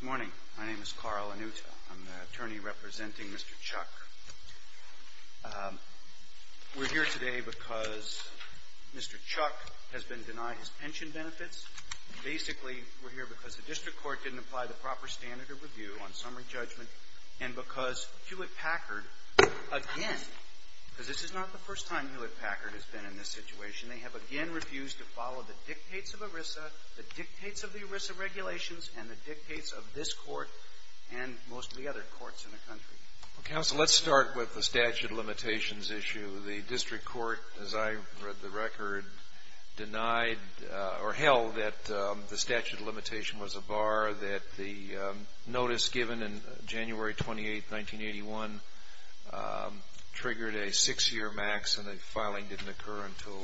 Good morning. My name is Carl Anuta. I'm the attorney representing Mr. Chuck. We're here today because Mr. Chuck has been denied his pension benefits. Basically, we're here because the district court didn't apply the proper standard of review on summary judgment and because Hewlett Packard, again, because this is not the first time Hewlett Packard has been in this situation, they have again refused to follow the dictates of ERISA, the dictates of the ERISA regulations, and the dictates of this Court and most of the other courts in the country. Well, counsel, let's start with the statute of limitations issue. The district court, as I read the record, denied or held that the statute of limitation was a bar that the notice given in January 28, 1981, triggered a 6-year max and the filing didn't occur until,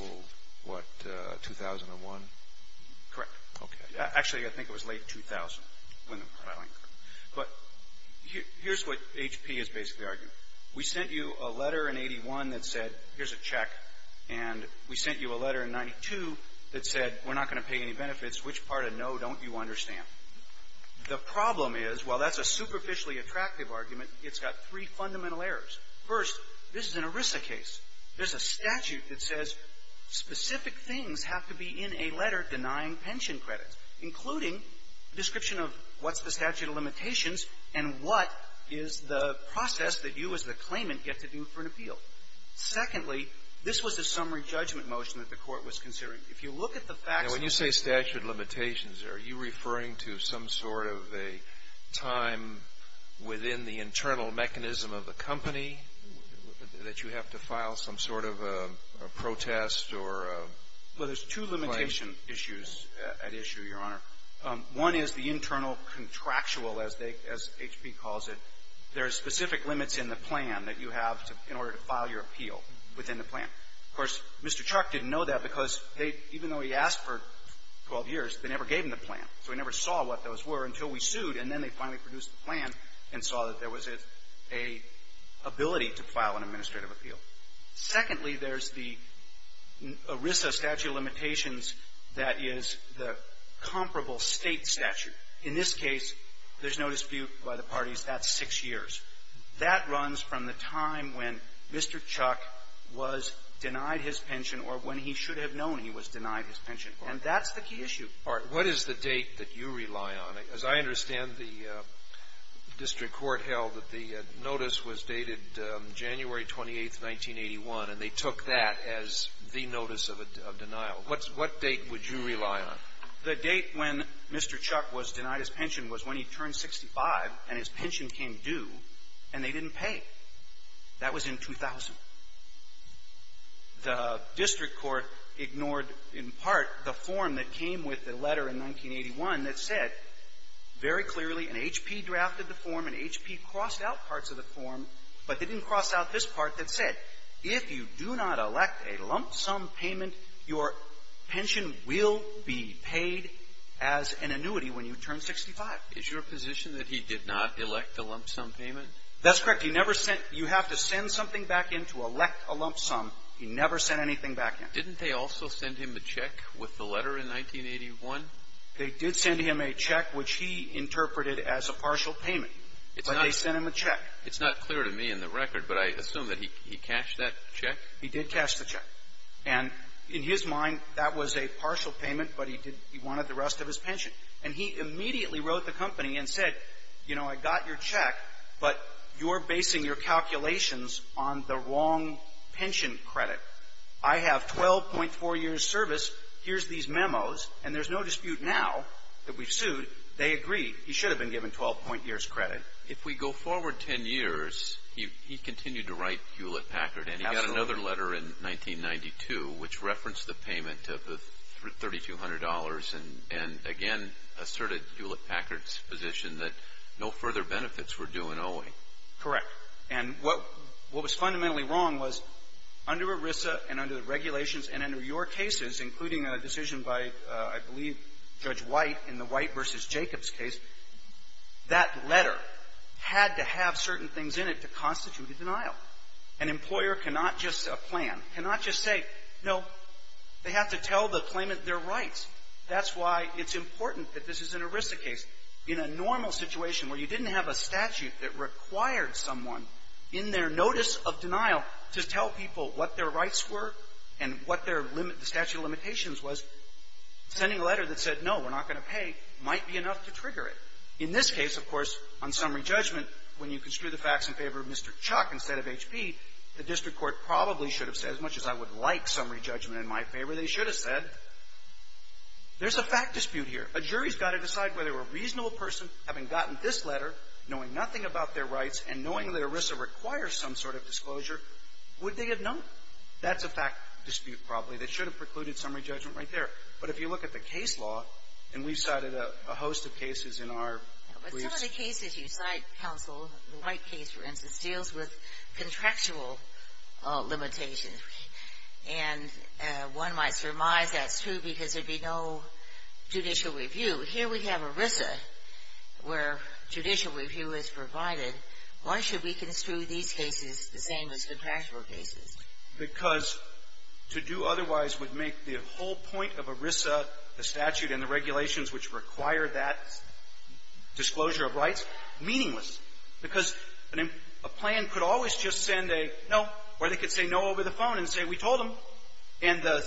what, 2001? Correct. Okay. Actually, I think it was late 2000 when the filing occurred. But here's what HP has basically argued. We sent you a letter in 81 that said, here's a check, and we sent you a letter in 92 that said, we're not going to pay any benefits. Which part of no don't you understand? The problem is, while that's a superficially attractive argument, it's got three fundamental errors. First, this is an ERISA case. There's a statute that says specific things have to be in a letter denying pension credits, including a description of what's the statute of limitations and what is the process that you as the claimant get to do for an appeal. Secondly, this was a summary judgment motion that the Court was considering. If you look at the facts of the case — Well, there's two limitation issues at issue, Your Honor. One is the internal contractual, as they — as HP calls it. There are specific limits in the plan that you have to — in order to file your appeal within the plan. Of course, Mr. Chuck didn't know that because they — even though he asked for 12 years, they never gave him the plan. So he never saw what those were until we sued, and then they finally produced the plan and saw that there was a — a ability to file an administrative appeal. Secondly, there's the ERISA statute of limitations that is the comparable State statute. In this case, there's no dispute by the parties. That's six years. That runs from the time when Mr. Chuck was denied his pension or when he should have known he was denied his pension. And that's the key issue. All right. What is the date that you rely on? As I understand, the district court held that the notice was dated January 28th, 1981, and they took that as the notice of a denial. What's — what date would you rely on? The date when Mr. Chuck was denied his pension was when he turned 65 and his pension came due and they didn't pay. That was in 2000. The district court ignored, in part, the form that came with the letter in 1981 that said very clearly an HP drafted the form. An HP crossed out parts of the form, but they didn't cross out this part that said if you do not elect a lump-sum payment, your pension will be paid as an annuity when you turn 65. Is your position that he did not elect a lump-sum payment? That's correct. He never sent — you have to send something back in to elect a lump-sum. He never sent anything back in. Didn't they also send him a check with the letter in 1981? They did send him a check, which he interpreted as a partial payment. But they sent him a check. It's not clear to me in the record, but I assume that he cashed that check? He did cash the check. And in his mind, that was a partial payment, but he did — he wanted the rest of his pension. And he immediately wrote the company and said, you know, I got your check, but you're basing your calculations on the wrong pension credit. I have 12.4 years' service, here's these memos, and there's no dispute now that we've sued. They agreed. He should have been given 12-point years' credit. If we go forward 10 years, he continued to write Hewlett-Packard. And he got another letter in 1992 which referenced the payment of the $3,200. And again, asserted Hewlett-Packard's position that no further benefits were due in Owing. Correct. And what was fundamentally wrong was under ERISA and under the regulations and under your cases, including a decision by, I believe, Judge White in the White v. Jacobs case, that letter had to have certain things in it to constitute a denial. An employer cannot just — a plan cannot just say, no, they have to tell the claimant their rights. That's why it's important that this is an ERISA case. In a normal situation where you didn't have a statute that required someone in their notice of denial to tell people what their rights were and what their statute of limitations was, sending a letter that said, no, we're not going to pay might be enough to trigger it. In this case, of course, on summary judgment, when you construe the facts in favor of Mr. Chuck instead of H.P., the district court probably should have said, as much as I would like summary judgment in my favor, they should have said, there's a fact dispute here. A jury's got to decide whether a reasonable person, having gotten this letter, knowing nothing about their rights and knowing that ERISA requires some sort of disclosure, would they have known? That's a fact dispute probably that should have precluded summary judgment right there. But if you look at the case law, and we've cited a host of cases in our briefs. But some of the cases you cite, counsel, the White case, for instance, deals with contractual limitations. And one might surmise that's true because there'd be no judicial review. Here we have ERISA where judicial review is provided. Why should we construe these cases the same as contractual cases? Because to do otherwise would make the whole point of ERISA, the statute and the regulations which require that disclosure of rights, meaningless. Because a plan could always just send a no, or they could say no over the phone and say, we told them. And the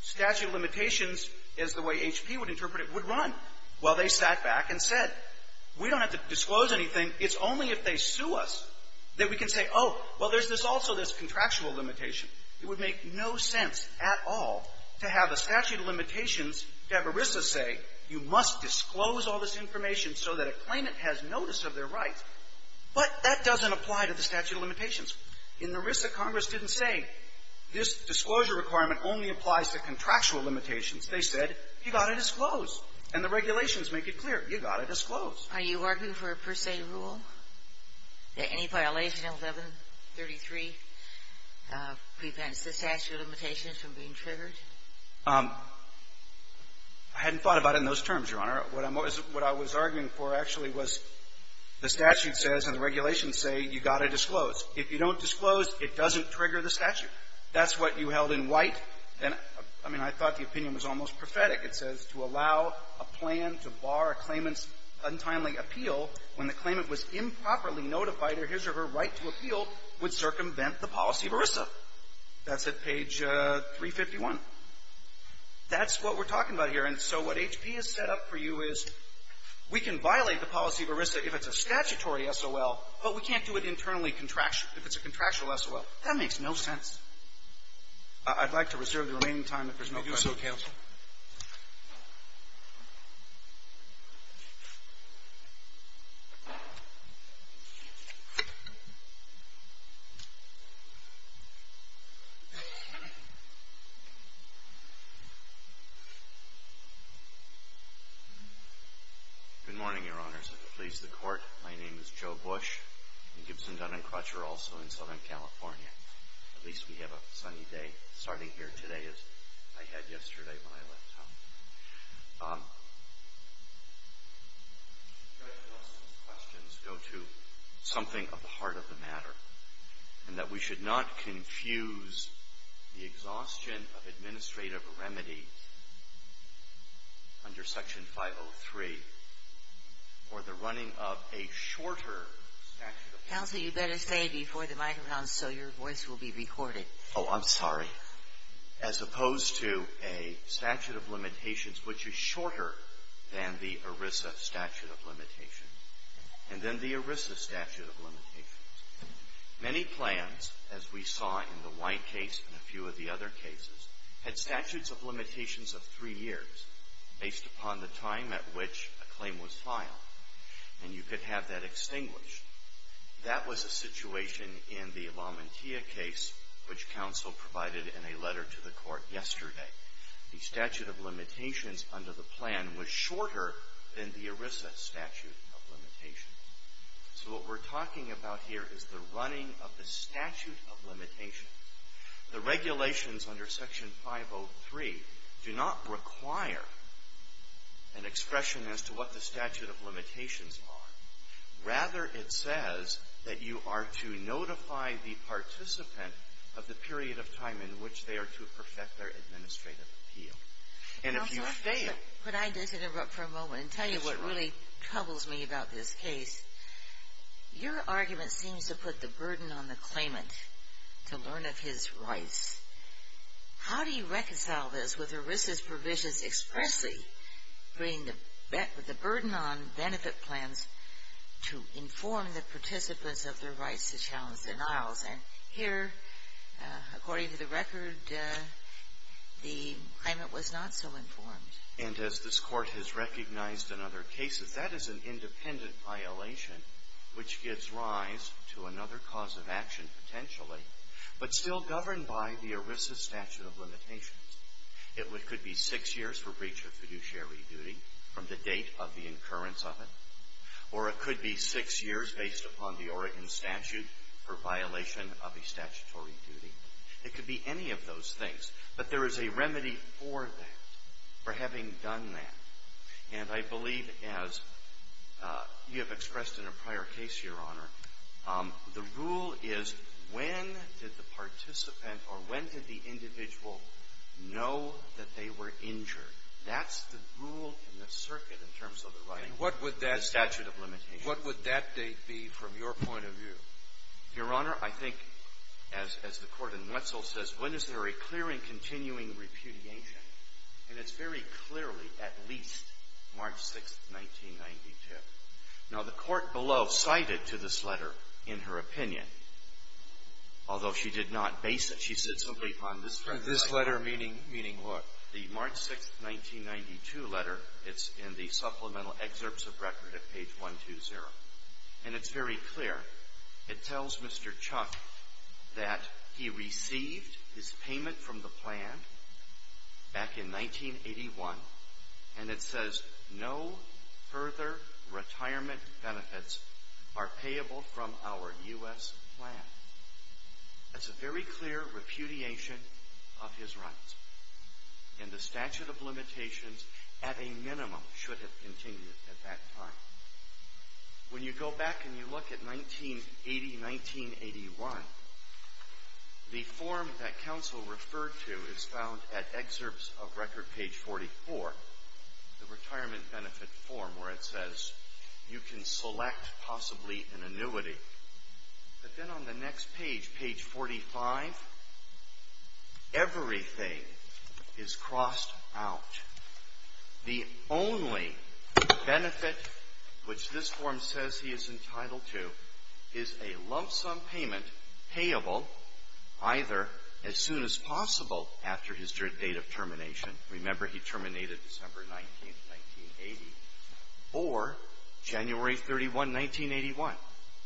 statute of limitations, as the way H.P. would interpret it, would run while they sat back and said, we don't have to disclose anything. And it's only if they sue us that we can say, oh, well, there's this also, this contractual limitation. It would make no sense at all to have a statute of limitations, to have ERISA say you must disclose all this information so that a claimant has notice of their rights. But that doesn't apply to the statute of limitations. In ERISA, Congress didn't say, this disclosure requirement only applies to contractual limitations. They said, you've got to disclose. And the regulations make it clear. You've got to disclose. Are you arguing for a per se rule, that any violation in 1133 prevents the statute of limitations from being triggered? I hadn't thought about it in those terms, Your Honor. What I'm always — what I was arguing for, actually, was the statute says and the regulations say you've got to disclose. If you don't disclose, it doesn't trigger the statute. That's what you held in White. And, I mean, I thought the opinion was almost prophetic. It says, to allow a plan to bar a claimant's untimely appeal when the claimant was improperly notified of his or her right to appeal would circumvent the policy of ERISA. That's at page 351. That's what we're talking about here. And so what HP has set up for you is we can violate the policy of ERISA if it's a statutory SOL, but we can't do it internally contractually, if it's a contractual SOL. That makes no sense. I'd like to reserve the remaining time if there's no question. Thank you, Counsel. Good morning, Your Honors. If it pleases the Court, my name is Joe Bush. I'm a Gibson Dunn and Crutcher, also in Southern California. At least we have a sunny day starting here today, as I had yesterday when I left town. Judge Nelson's questions go to something of the heart of the matter, and that we should not confuse the exhaustion of administrative remedy under Section 503 for the running of a shorter statute of limitations. Counsel, you better say it before the microphone so your voice will be recorded. Oh, I'm sorry. As opposed to a statute of limitations which is shorter than the ERISA statute of limitations, and then the ERISA statute of limitations. Many plans, as we saw in the White case and a few of the other cases, had statutes of limitations of three years based upon the time at which a claim was filed, and you could have that extinguished. That was a situation in the Lamantia case, which Counsel provided in a letter to the Court yesterday. The statute of limitations under the plan was shorter than the ERISA statute of limitations. So what we're talking about here is the running of the statute of limitations. The regulations under Section 503 do not require an expression as to what the statute of limitations are. Rather, it says that you are to notify the participant of the period of time in which they are to perfect their administrative appeal. And if you fail… Counsel, could I just interrupt for a moment and tell you what really troubles me about this case? Your argument seems to put the burden on the claimant to learn of his rights. How do you reconcile this with ERISA's provisions expressly bringing the burden on benefit plans to inform the participants of their rights to challenge denials? And here, according to the record, the claimant was not so informed. And as this Court has recognized in other cases, that is an independent violation which gives rise to another cause of action, potentially, but still governed by the ERISA statute of limitations. It could be six years for breach of fiduciary duty from the date of the incurrence of it, or it could be six years based upon the Oregon statute for violation of a statutory duty. It could be any of those things, but there is a remedy for that, for having done that. And I believe, as you have expressed in a prior case, Your Honor, the rule is, when did the participant or when did the individual know that they were injured? That's the rule in this circuit in terms of the writing of the statute of limitations. What would that date be from your point of view? Your Honor, I think, as the Court in Wetzel says, when is there a clear and continuing repudiation? And it's very clearly at least March 6th, 1992. Now, the Court below cited to this letter, in her opinion, although she did not base it, she said something on this letter. This letter meaning what? The March 6th, 1992 letter. It's in the supplemental excerpts of record at page 120. And it's very clear. It tells Mr. Chuck that he received his payment from the plan back in 1981, and it says no further retirement benefits are payable from our U.S. plan. That's a very clear repudiation of his rights. And the statute of limitations, at a minimum, should have continued at that time. When you go back and you look at 1980, 1981, the form that counsel referred to is excerpts of record page 44, the retirement benefit form, where it says you can select possibly an annuity. But then on the next page, page 45, everything is crossed out. The only benefit, which this form says he is entitled to, is a lump sum payment payable either as soon as possible after his date of termination. Remember, he terminated December 19, 1980, or January 31, 1981. He didn't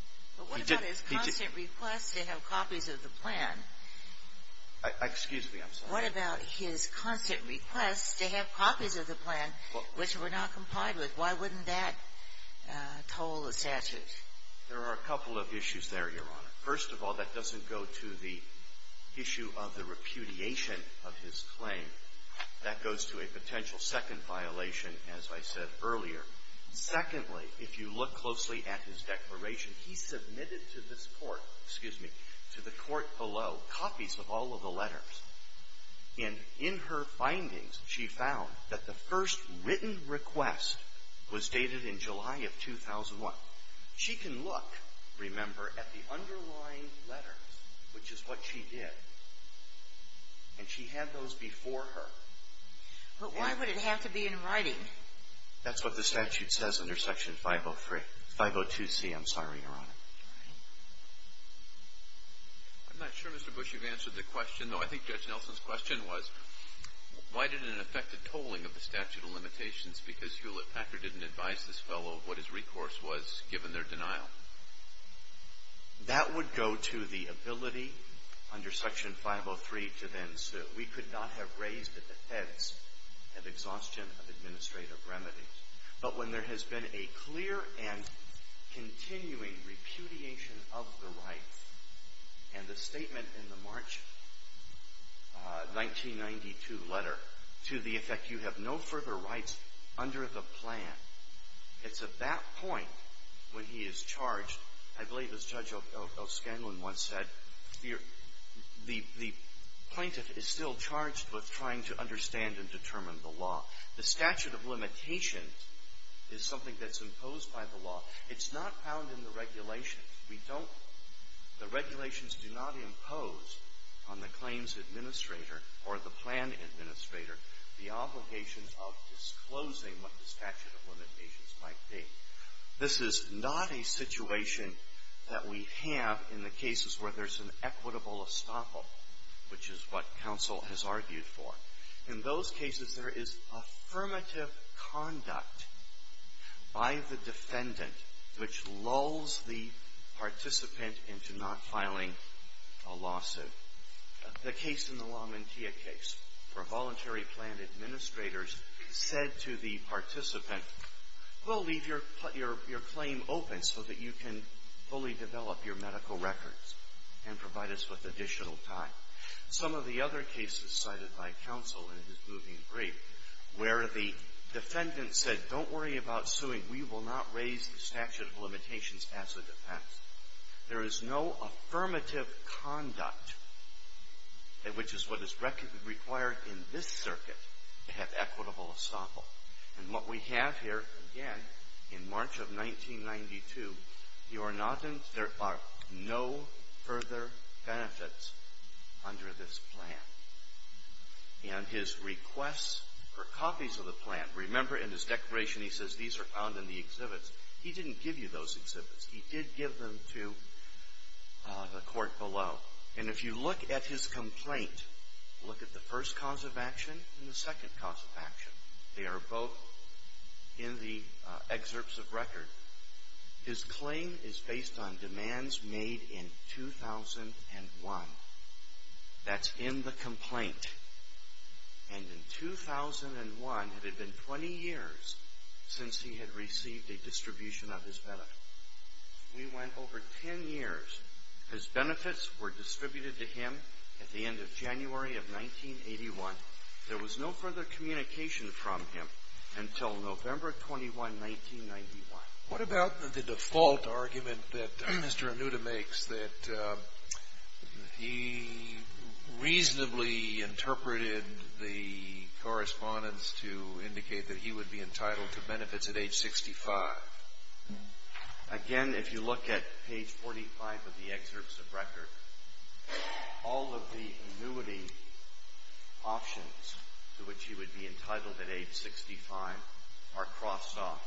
— But what about his constant request to have copies of the plan? Excuse me. I'm sorry. What about his constant request to have copies of the plan, which were not complied with? Why wouldn't that toll the statute? There are a couple of issues there, Your Honor. First of all, that doesn't go to the issue of the repudiation of his claim. That goes to a potential second violation, as I said earlier. Secondly, if you look closely at his declaration, he submitted to this Court — excuse me — to the Court below copies of all of the letters. And in her findings, she found that the first written request was dated in July of 2001. She can look, remember, at the underlying letters, which is what she did. And she had those before her. But why would it have to be in writing? That's what the statute says under Section 503 — 502c, I'm sorry, Your Honor. I'm not sure, Mr. Bush, you've answered the question, though. I think Judge Nelson's question was, why did it affect the tolling of the statute of limitations? Because Hewlett-Packard didn't advise this fellow of what his recourse was, given their denial. That would go to the ability under Section 503 to then sue. We could not have raised the defense of exhaustion of administrative remedies. But when there has been a clear and continuing repudiation of the right, and the statement in the March 1992 letter, to the effect, you have no further rights under the plan, it's at that point when he is charged. I believe, as Judge O'Scanlan once said, the plaintiff is still charged with trying to understand and determine the law. The statute of limitation is something that's imposed by the law. It's not found in the regulations. The regulations do not impose on the claims administrator or the plan administrator the obligation of disclosing what the statute of limitations might be. This is not a situation that we have in the cases where there's an equitable estoppel, which is what counsel has argued for. In those cases, there is affirmative conduct by the defendant, which lulls the participant into not filing a lawsuit. The case in the LaMantia case, where voluntary plan administrators said to the participant, we'll leave your claim open so that you can fully develop your medical records and provide us with additional time. Some of the other cases cited by counsel in his moving brief, where the defendant said, don't worry about suing, we will not raise the statute of limitations as a defense. There is no affirmative conduct, which is what is required in this circuit to have equitable estoppel. And what we have here, again, in March of 1992, you are not in, there are no further benefits under this plan. And his requests for copies of the plan, remember in his declaration he says these are found in the exhibits, he didn't give you those exhibits, he did give them to the court below. And if you look at his complaint, look at the first cause of action and the second cause of action, they are both in the excerpts of record. His claim is based on demands made in 2001. That's in the complaint. And in 2001, it had been 20 years since he had received a distribution of his benefit. We went over 10 years. His benefits were distributed to him at the end of January of 1981. There was no further communication from him until November 21, 1991. What about the default argument that Mr. Anuta makes that he reasonably interpreted the correspondence to indicate that he would be entitled to benefits at age 65? Again, if you look at page 45 of the excerpts of record, all of the annuity options to which he would be entitled at age 65 are crossed off.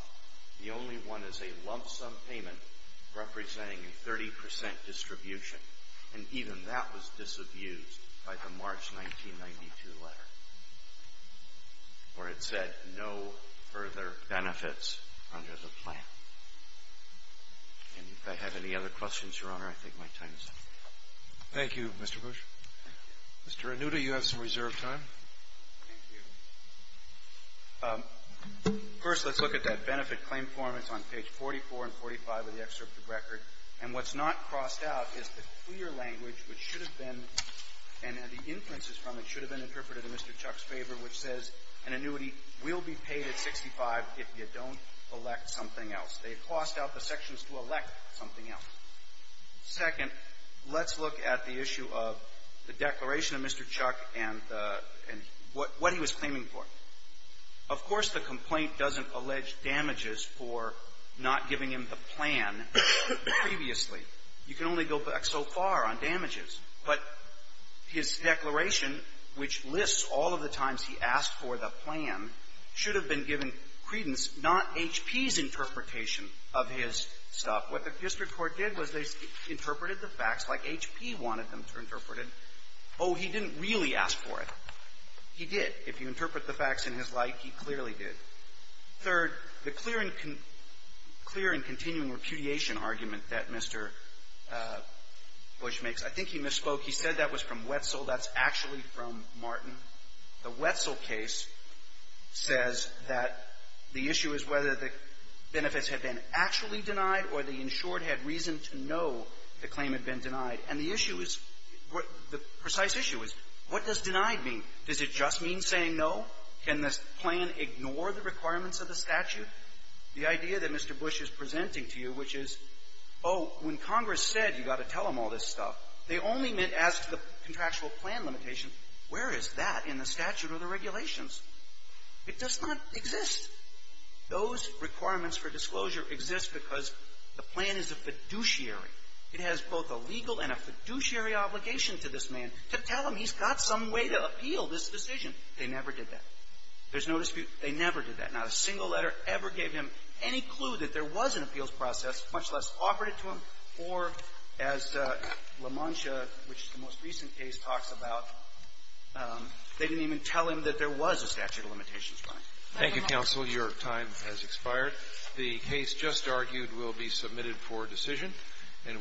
The only one is a lump sum payment representing a 30% distribution, and even that was disabused by the March 1992 letter, where it said no further benefits under the plan. And if I have any other questions, Your Honor, I think my time is up. Thank you, Mr. Bush. Mr. Anuta, you have some reserved time. Thank you. First, let's look at that benefit claim form. It's on page 44 and 45 of the excerpt of record. And what's not crossed out is the clear language which should have been, and the inferences from it should have been interpreted in Mr. Chuck's favor, which says an annuity will be paid at 65 if you don't elect something else. They've crossed out the sections to elect something else. Second, let's look at the issue of the declaration of Mr. Chuck and the — and what he was claiming for. Of course, the complaint doesn't allege damages for not giving him the plan previously. You can only go back so far on damages. But his declaration, which lists all of the times he asked for the plan, should have been given credence, not H.P.'s interpretation of his stuff. What the district court did was they interpreted the facts like H.P. wanted them to interpret it. Oh, he didn't really ask for it. He did. If you interpret the facts in his like, he clearly did. Third, the clear and continuing repudiation argument that Mr. Bush makes, I think he misspoke. He said that was from Wetzel. That's actually from Martin. The Wetzel case says that the issue is whether the benefits had been actually denied or the insured had reason to know the claim had been denied. And the issue is — the precise issue is, what does denied mean? Does it just mean saying no? Can the plan ignore the requirements of the statute? The idea that Mr. Bush is presenting to you, which is, oh, when Congress said you got to tell him all this stuff, they only meant ask the contractual plan limitation. Where is that in the statute or the regulations? It does not exist. Those requirements for disclosure exist because the plan is a fiduciary. It has both a legal and a fiduciary obligation to this man to tell him he's got some way to appeal this decision. They never did that. There's no dispute. They never did that. Not a single letter ever gave him any clue that there was an appeals process, much less offered it to him, or, as LaMantia, which is the most recent case, talks about, they didn't even tell him that there was a statute of limitations. Thank you, counsel. Your time has expired. The case just argued will be submitted for decision.